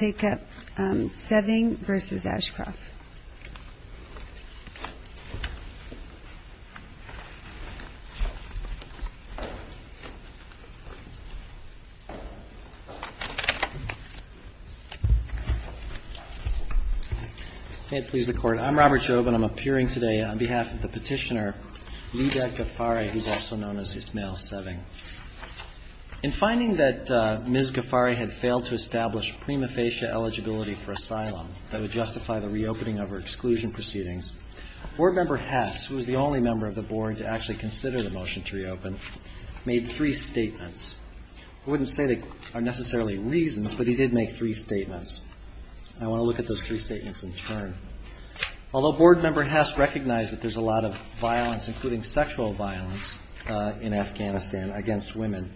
I'm Robert Job and I'm appearing today on behalf of the petitioner Lidek Ghaffari who is also known as Ismael Seving. In finding that Ms. Ghaffari had failed to establish prima facie eligibility for asylum that would justify the reopening of her exclusion proceedings, board member Hess, who was the only member of the board to actually consider the motion to reopen, made three statements. I wouldn't say they are necessarily reasons, but he did make three statements. I want to look at those three statements in turn. Although board member Hess recognized that there's a lot of violence, including sexual violence, in Afghanistan against women,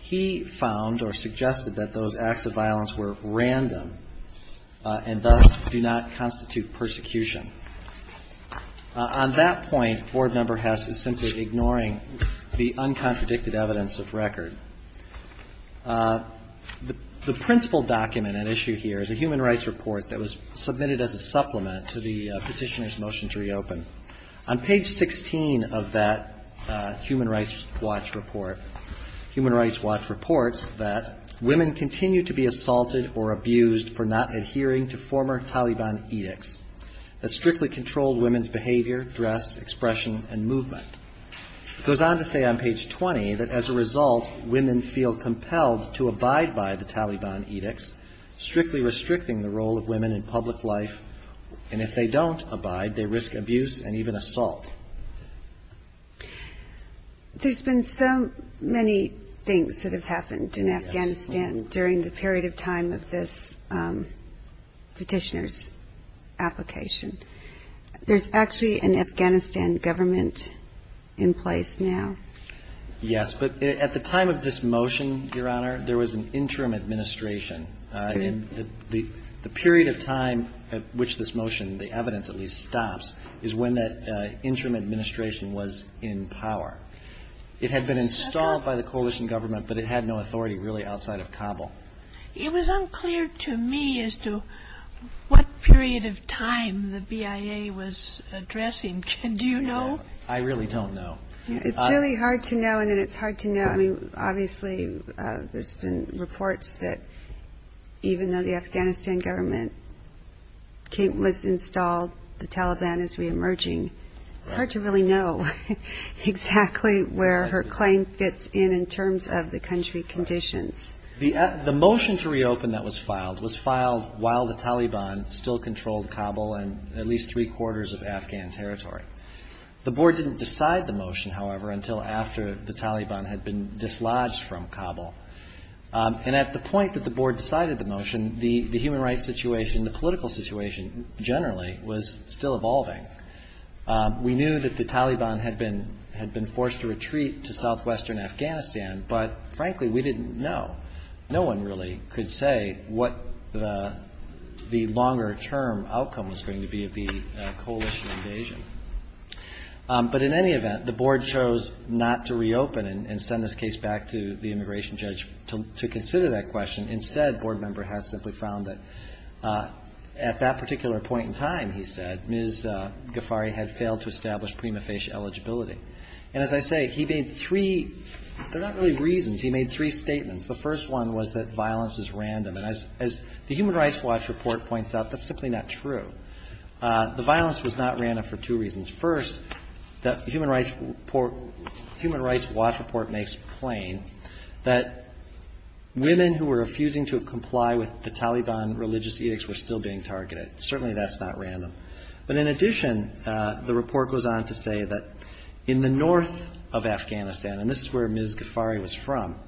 he found or suggested that those acts of violence were random and thus do not constitute persecution. On that point, board member Hess is simply ignoring the uncontradicted evidence of record. The principal document at issue here is a human rights report that was submitted as a supplement to the petitioner's motion to reopen. On page 16 of that human rights watch report, human rights watch reports that women continue to be assaulted or abused for not adhering to former Taliban edicts that strictly controlled women's behavior, dress, expression, and movement. It goes on to say on page 20 that as a result, women feel compelled to abide by the Taliban edicts, strictly restricting the role of women in public life, and if they don't abide, they risk abuse and even assault. There's been so many things that have happened in Afghanistan during the period of time of this petitioner's application. There's actually an Afghanistan government in place now. Yes, but at the time of this motion, Your Honor, there was an interim administration. I mean, the period of time at which this motion, the evidence at least, stops is when that interim administration was in power. It had been installed by the coalition government, but it had no authority really outside of Kabul. It was unclear to me as to what period of time the BIA was addressing. Do you know? I really don't know. It's really hard to know, and then it's hard to know. I mean, obviously, there's been reports that even though the Afghanistan government was installed, the Taliban is reemerging. It's hard to really know exactly where her claim fits in in terms of the country conditions. The motion to reopen that was filed was filed while the Taliban still controlled Kabul and at least three-quarters of Afghan territory. The board didn't decide the motion, however, until after the Taliban had been dislodged from Kabul. And at the point that the board decided the motion, the human rights situation, the political situation generally, was still evolving. We knew that the Taliban had been forced to retreat to southwestern Afghanistan, but frankly, we didn't know. No one really could say what the longer-term outcome was going to be of the coalition invasion. But in any event, the board chose not to reopen and send this case back to the immigration judge to consider that question. Instead, board member Hess simply found that at that particular point in time, he said, Ms. Ghaffari had failed to establish prima facie eligibility. And as I say, he made three – they're not really reasons. He made three statements. The first one was that violence is random. And as the Human Rights Watch report points out, that's simply not true. The violence was not random for two reasons. First, the Human Rights Watch report makes plain that women who were refusing to comply with the Taliban religious edicts were still being targeted. Certainly, that's not random. But in addition, the report goes on to say that in the north of Afghanistan, and this is where Ms. Ghaffari was from,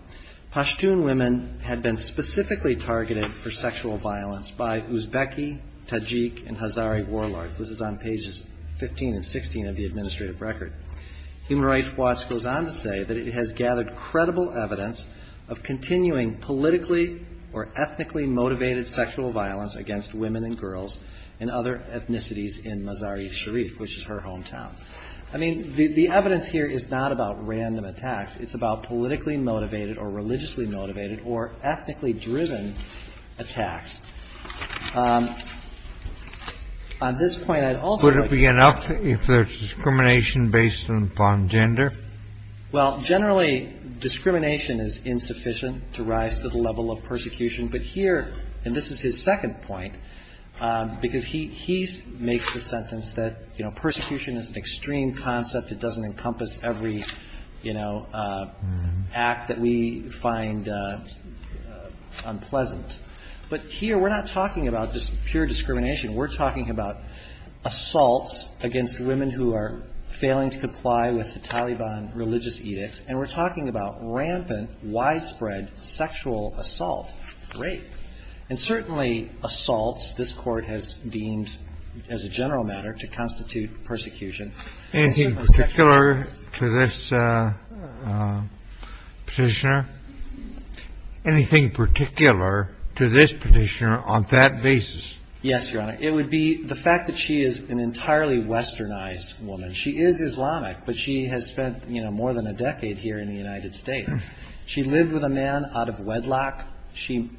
Pashtun women had been specifically targeted for sexual violence by Uzbeki, Tajik, and Hazari warlords. This is on pages 15 and 16 of the administrative record. Human Rights Watch goes on to say that it has gathered credible evidence of continuing politically or ethnically motivated sexual violence against women and girls and other ethnicities in Mazar-e-Sharif, which is her hometown. I mean, the evidence here is not about random attacks. It's about politically motivated or religiously motivated or ethnically driven attacks. On this point, I'd also like to- Could it be enough if there's discrimination based upon gender? Well, generally, discrimination is insufficient to rise to the level of persecution. But here, and this is his second point, because he makes the sentence that, you know, persecution is an extreme concept. It doesn't encompass every, you know, act that we find unpleasant. But here, we're not talking about just pure discrimination. We're talking about assaults against women who are failing to comply with the Taliban religious edicts, and we're talking about rampant, widespread sexual assault. Great. And certainly assaults, this Court has deemed as a general matter to constitute persecution. Anything particular to this petitioner? Anything particular to this petitioner on that basis? Yes, Your Honor. It would be the fact that she is an entirely Westernized woman. She is Islamic, but she has spent, you know, more than a decade here in the United States. She lived with a man out of wedlock. She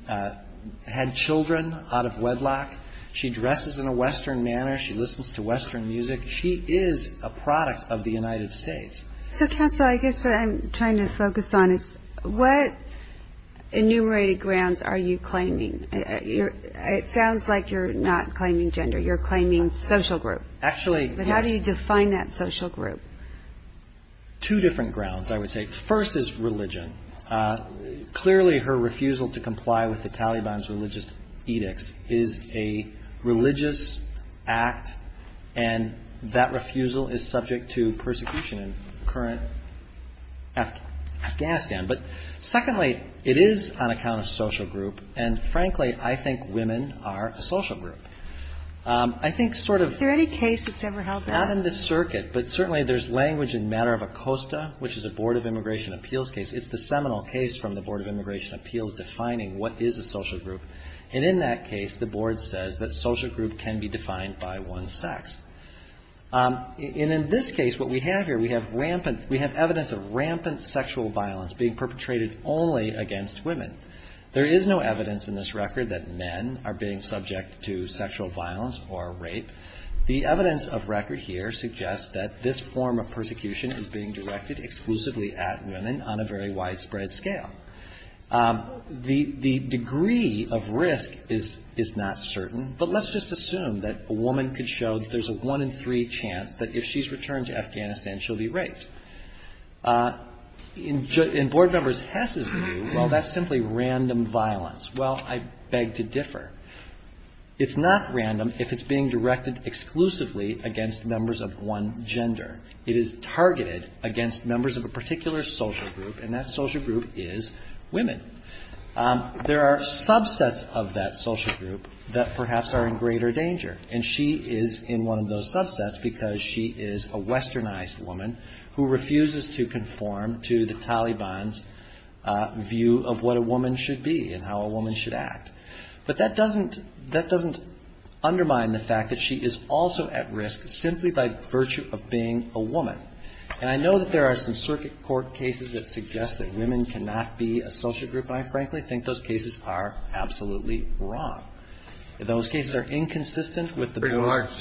had children out of wedlock. She dresses in a Western manner. She listens to Western music. She is a product of the United States. So, counsel, I guess what I'm trying to focus on is what enumerated grounds are you claiming? It sounds like you're not claiming gender. You're claiming social group. Actually, yes. But how do you define that social group? Two different grounds, I would say. First is religion. Clearly, her refusal to comply with the Taliban's religious edicts is a religious act, and that refusal is subject to persecution in current Afghanistan. But secondly, it is on account of social group, and frankly, I think women are a social group. I think sort of — Is there any case that's ever held that? Not in this circuit, but certainly there's language in matter of ACOSTA, which is a Board of Immigration Appeals case. It's the seminal case from the Board of Immigration Appeals defining what is a social group. And in that case, the Board says that social group can be defined by one's sex. And in this case, what we have here, we have evidence of rampant sexual violence being perpetrated only against women. There is no evidence in this record that men are being subject to sexual violence or rape. The evidence of record here suggests that this form of persecution is being directed exclusively at women on a very widespread scale. The degree of risk is not certain, but let's just assume that a woman could show that there's a one in three chance that if she's returned to Afghanistan, she'll be raped. In Board members Hess's view, well, that's simply random violence. Well, I beg to differ. It's not random if it's being directed exclusively against members of one gender. It is targeted against members of a particular social group, and that social group is women. There are subsets of that social group that perhaps are in greater danger. And she is in one of those subsets because she is a westernized woman who refuses to conform to the Taliban's view of what a woman should be and how a woman should act. That doesn't undermine the fact that she is also at risk simply by virtue of being a woman. And I know that there are some circuit court cases that suggest that women cannot be a social group, and I frankly think those cases are absolutely wrong. Those cases are inconsistent with the most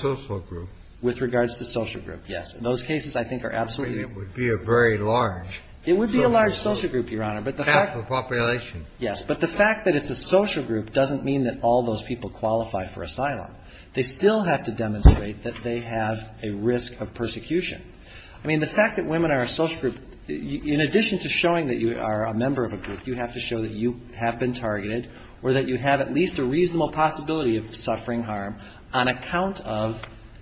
of the social group. With regards to social group, yes. Those cases I think are absolutely. It would be a very large social group. It would be a large social group, Your Honor. Half the population. Yes, but the fact that it's a social group doesn't mean that all those people qualify for asylum. They still have to demonstrate that they have a risk of persecution. I mean, the fact that women are a social group, in addition to showing that you are a member of a group, you have to show that you have been targeted or that you have at least a reasonable possibility of suffering harm on account of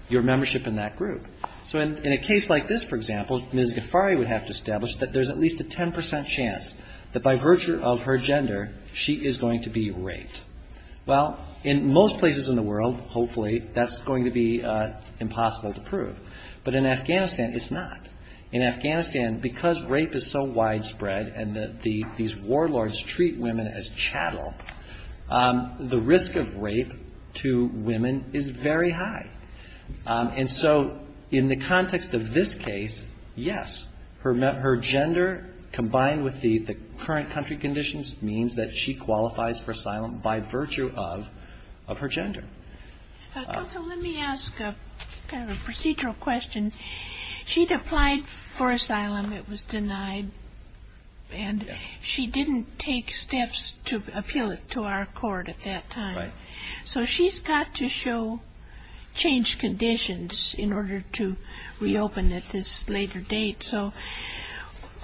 your membership in that group. So in a case like this, for example, Ms. Ghaffari would have to establish that there's at least a 10 percent chance that by virtue of her gender, she is going to be raped. Well, in most places in the world, hopefully, that's going to be impossible to prove. But in Afghanistan, it's not. In Afghanistan, because rape is so widespread and these warlords treat women as chattel, the risk of rape to women is very high. And so in the context of this case, yes, her gender combined with the current country conditions means that she qualifies for asylum by virtue of her gender. So let me ask kind of a procedural question. She'd applied for asylum. It was denied. And she didn't take steps to appeal it to our court at that time. Right. So she's got to show changed conditions in order to reopen at this later date. So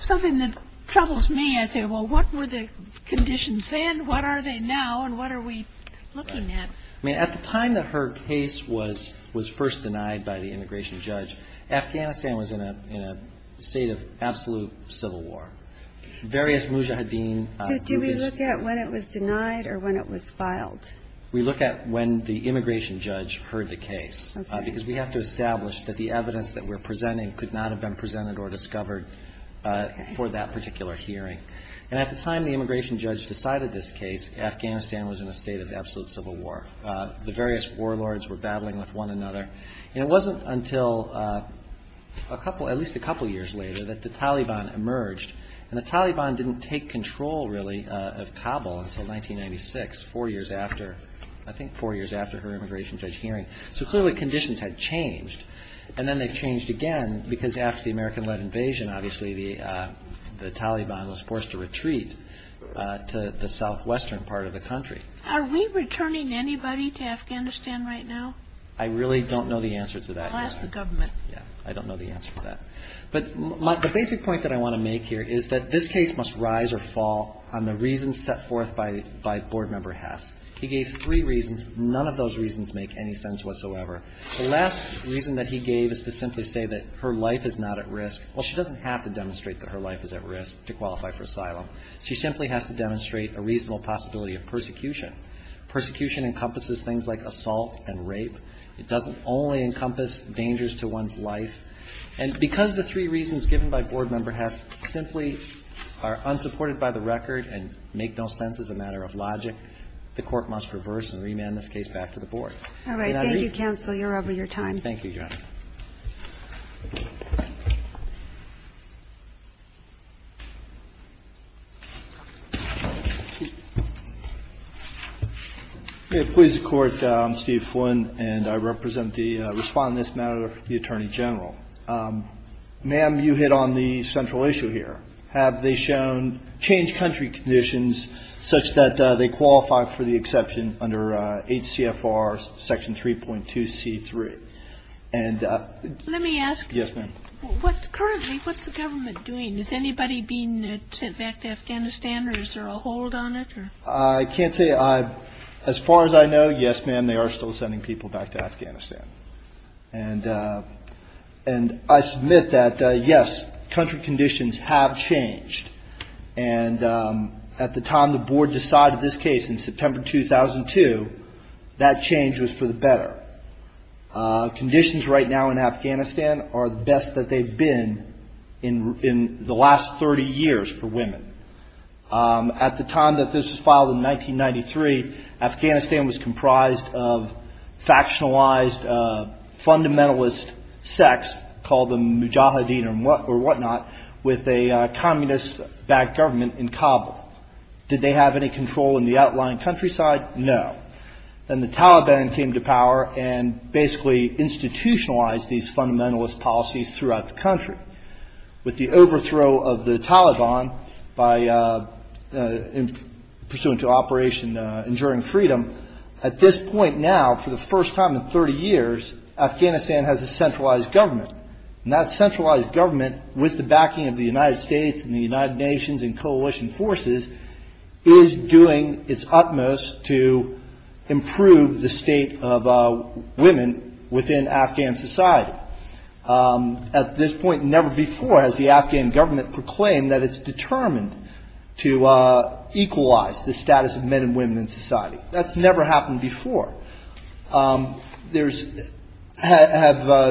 something that troubles me, I say, well, what were the conditions then? What are they now? And what are we looking at? I mean, at the time that her case was first denied by the immigration judge, Afghanistan was in a state of absolute civil war. Do we look at when it was denied or when it was filed? We look at when the immigration judge heard the case because we have to establish that the evidence that we're presenting could not have been presented or discovered for that particular hearing. And at the time the immigration judge decided this case, Afghanistan was in a state of absolute civil war. The various warlords were battling with one another. And it wasn't until at least a couple years later that the Taliban emerged. And the Taliban didn't take control, really, of Kabul until 1996, four years after, I think four years after her immigration judge hearing. So clearly conditions had changed. And then they changed again because after the American-led invasion, obviously, the Taliban was forced to retreat to the southwestern part of the country. Are we returning anybody to Afghanistan right now? I really don't know the answer to that. I'll ask the government. Yeah. I don't know the answer to that. But the basic point that I want to make here is that this case must rise or fall on the reasons set forth by Board Member Hess. He gave three reasons. None of those reasons make any sense whatsoever. The last reason that he gave is to simply say that her life is not at risk. Well, she doesn't have to demonstrate that her life is at risk to qualify for asylum. She simply has to demonstrate a reasonable possibility of persecution. Persecution encompasses things like assault and rape. It doesn't only encompass dangers to one's life. And because the three reasons given by Board Member Hess simply are unsupported by the record and make no sense as a matter of logic, the Court must reverse and remand this case back to the Board. All right. Thank you, counsel. You're over your time. Thank you, Your Honor. Thank you. Please, the Court. I'm Steve Flynn, and I represent the respondent on this matter, the Attorney General. Ma'am, you hit on the central issue here. Have they shown change country conditions such that they qualify for the exception under HCFR Section 3.2C3? Let me ask. Yes, ma'am. Currently, what's the government doing? Is anybody being sent back to Afghanistan, or is there a hold on it? I can't say. As far as I know, yes, ma'am, they are still sending people back to Afghanistan. And I submit that, yes, country conditions have changed. And at the time the Board decided this case in September 2002, that change was for the better. Conditions right now in Afghanistan are the best that they've been in the last 30 years for women. At the time that this was filed in 1993, Afghanistan was comprised of factionalized fundamentalist sects, or what not, with a communist-backed government in Kabul. Did they have any control in the outlying countryside? No. Then the Taliban came to power and basically institutionalized these fundamentalist policies throughout the country. With the overthrow of the Taliban, pursuant to Operation Enduring Freedom, at this point now, for the first time in 30 years, Afghanistan has a centralized government. And that centralized government, with the backing of the United States and the United Nations and coalition forces, is doing its utmost to improve the state of women within Afghan society. At this point, never before has the Afghan government proclaimed that it's determined to equalize the status of men and women in society. That's never happened before. Have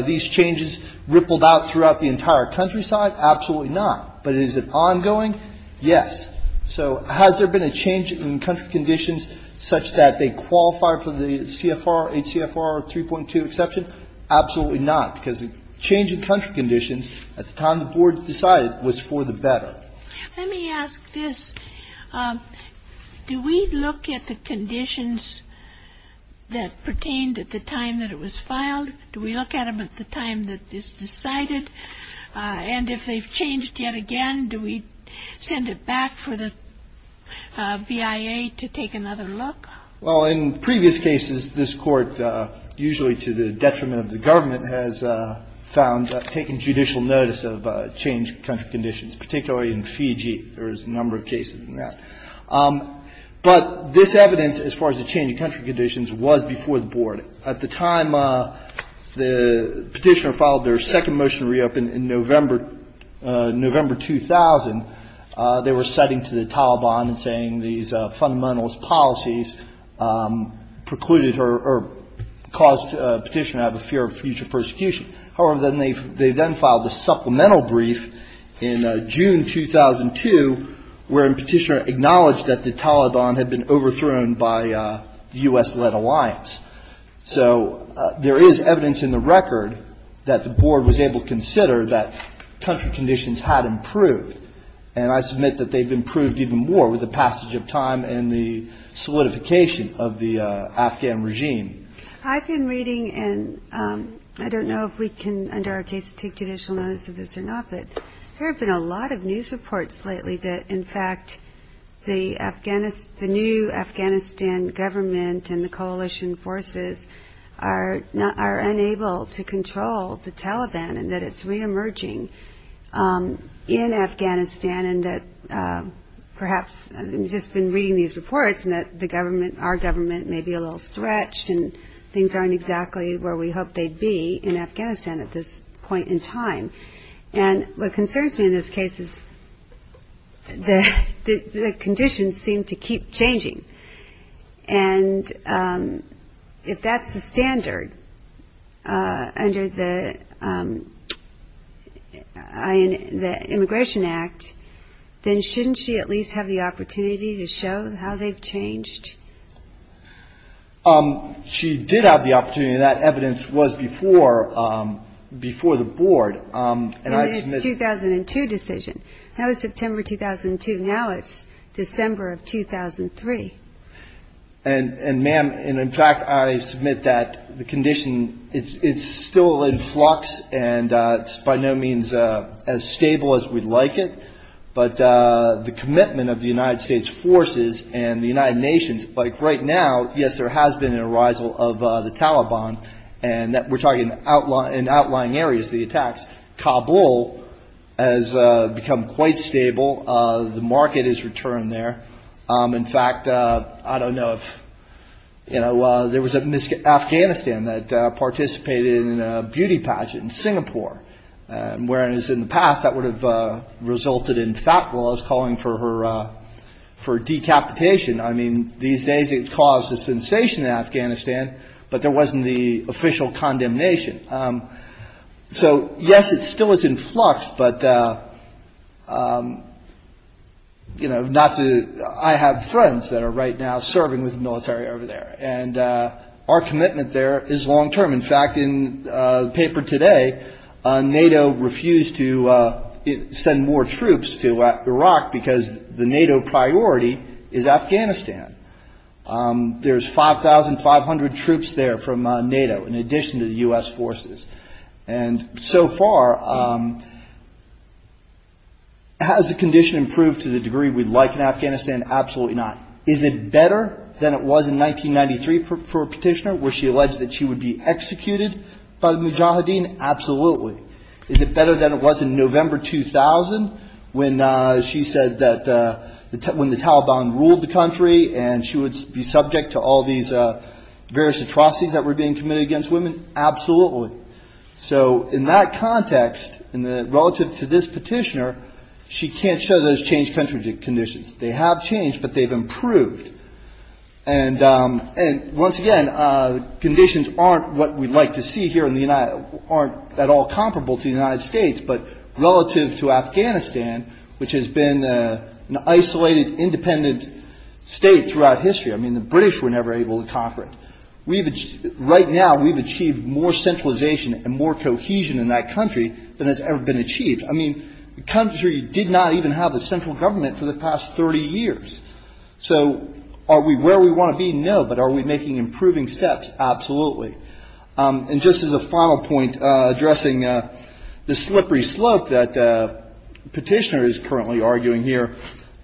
these changes rippled out throughout the entire countryside? Absolutely not. But is it ongoing? Yes. So has there been a change in country conditions such that they qualify for the CFR, 8 CFR 3.2 exception? Absolutely not, because the change in country conditions at the time the Board decided was for the better. Let me ask this. Do we look at the conditions that pertained at the time that it was filed? Do we look at them at the time that it's decided? And if they've changed yet again, do we send it back for the BIA to take another look? Well, in previous cases, this court, usually to the detriment of the government, has found taking judicial notice of change in country conditions, particularly in Fiji. There is a number of cases in that. But this evidence, as far as the change in country conditions, was before the Board. At the time the petitioner filed their second motion to reopen in November 2000, they were citing to the Taliban and saying these fundamentalist policies precluded or caused the petitioner to have a fear of future persecution. However, they then filed a supplemental brief in June 2002, wherein the petitioner acknowledged that the Taliban had been overthrown by the U.S.-led alliance. So there is evidence in the record that the Board was able to consider that country conditions had improved. And I submit that they've improved even more with the passage of time and the solidification of the Afghan regime. I've been reading, and I don't know if we can, under our case, take judicial notice of this or not, but there have been a lot of news reports lately that, in fact, the new Afghanistan government and the coalition forces are unable to control the Taliban and that it's re-emerging in Afghanistan and that perhaps, I've just been reading these reports and that the government, our government, may be a little stretched and things aren't exactly where we hoped they'd be in Afghanistan at this point in time. And what concerns me in this case is the conditions seem to keep changing. And if that's the standard under the Immigration Act, then shouldn't she at least have the opportunity to show how they've changed? She did have the opportunity. That evidence was before the Board. It was a 2002 decision. That was September 2002. Now it's December of 2003. And, ma'am, in fact, I submit that the condition, it's still in flux, and it's by no means as stable as we'd like it. But the commitment of the United States forces and the United Nations, like right now, yes, there has been an arisal of the Taliban, and we're talking in outlying areas, the attacks. Kabul has become quite stable. The market has returned there. In fact, I don't know if, you know, there was a Miss Afghanistan that participated in a beauty pageant in Singapore, whereas in the past that would have resulted in Fatwa calling for her decapitation. I mean, these days it caused a sensation in Afghanistan, but there wasn't the official condemnation. So, yes, it still is in flux, but, you know, I have friends that are right now serving with the military over there, and our commitment there is long term. In fact, in the paper today, NATO refused to send more troops to Iraq because the NATO priority is Afghanistan. There's 5,500 troops there from NATO in addition to the U.S. forces. And so far, has the condition improved to the degree we'd like in Afghanistan? Absolutely not. Is it better than it was in 1993 for a petitioner where she alleged that she would be executed by the mujahideen? Absolutely. Is it better than it was in November 2000 when she said that when the Taliban ruled the country and she would be subject to all these various atrocities that were being committed against women? Absolutely. So in that context, relative to this petitioner, she can't show those changed country conditions. They have changed, but they've improved. And once again, conditions aren't what we'd like to see here in the United States, aren't at all comparable to the United States. But relative to Afghanistan, which has been an isolated, independent state throughout history, I mean, the British were never able to conquer it. Right now, we've achieved more centralization and more cohesion in that country than has ever been achieved. I mean, the country did not even have a central government for the past 30 years. So are we where we want to be? No. But are we making improving steps? Absolutely. And just as a final point, addressing the slippery slope that the petitioner is currently arguing here,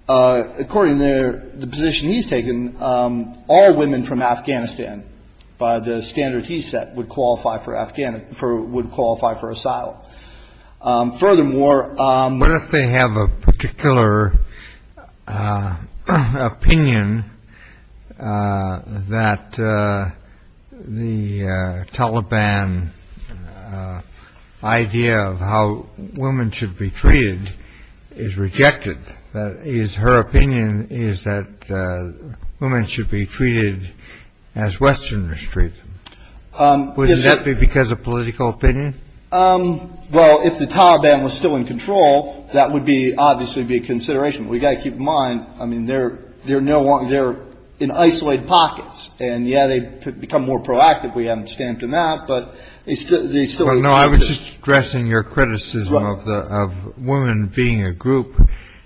according to the position he's taken, all women from Afghanistan, by the standard he set, would qualify for asylum. Furthermore, what if they have a particular opinion that the Taliban idea of how women should be treated is rejected? That is, her opinion is that women should be treated as Westerners treat them. Would that be because of political opinion? Well, if the Taliban was still in control, that would be obviously be a consideration. We've got to keep in mind. I mean, they're they're no longer in isolated pockets. And, yeah, they become more proactive. We haven't stamped them out, but they still don't know. I was just addressing your criticism of women being a group.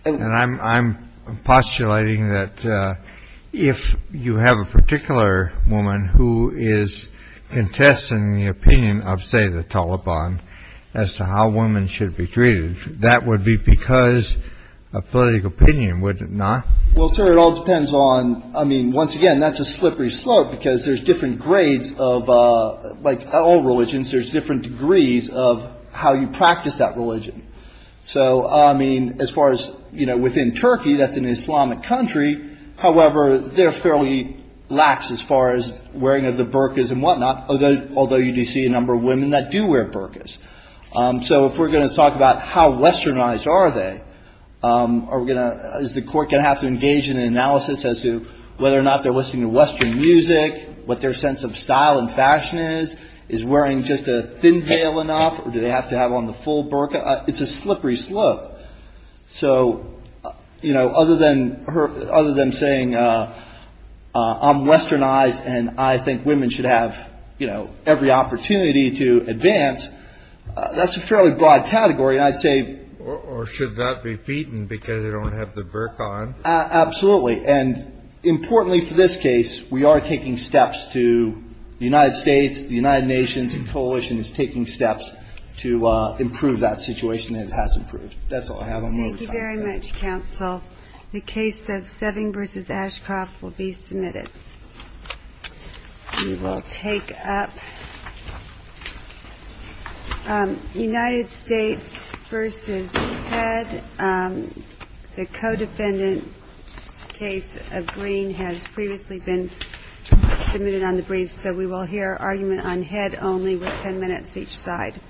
And I'm postulating that if you have a particular woman who is contesting the opinion of, say, the Taliban as to how women should be treated, that would be because a political opinion would not. Well, sir, it all depends on. I mean, once again, that's a slippery slope because there's different grades of like all religions. There's different degrees of how you practice that religion. So, I mean, as far as, you know, within Turkey, that's an Islamic country. However, they're fairly lax as far as wearing of the burqas and whatnot. Although you do see a number of women that do wear burqas. So if we're going to talk about how Westernized are they? Are we going to is the court going to have to engage in an analysis as to whether or not they're listening to Western music? What their sense of style and fashion is, is wearing just a thin veil enough? Do they have to have on the full burqa? It's a slippery slope. So, you know, other than her other than saying I'm Westernized and I think women should have, you know, every opportunity to advance. That's a fairly broad category, I'd say. Or should that be beaten because they don't have the burqa on? Absolutely. And importantly, for this case, we are taking steps to the United States, the United Nations coalition is taking steps to improve that situation and it has improved. That's all I have on what we're talking about. Thank you very much, counsel. The case of Seving versus Ashcroft will be submitted. We will take up United States versus Fed. The codefendant's case of Green has previously been submitted on the brief. So we will hear argument on head only with 10 minutes each side.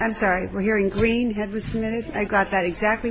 I'm sorry, we're hearing green head was submitted. I got that exactly backwards.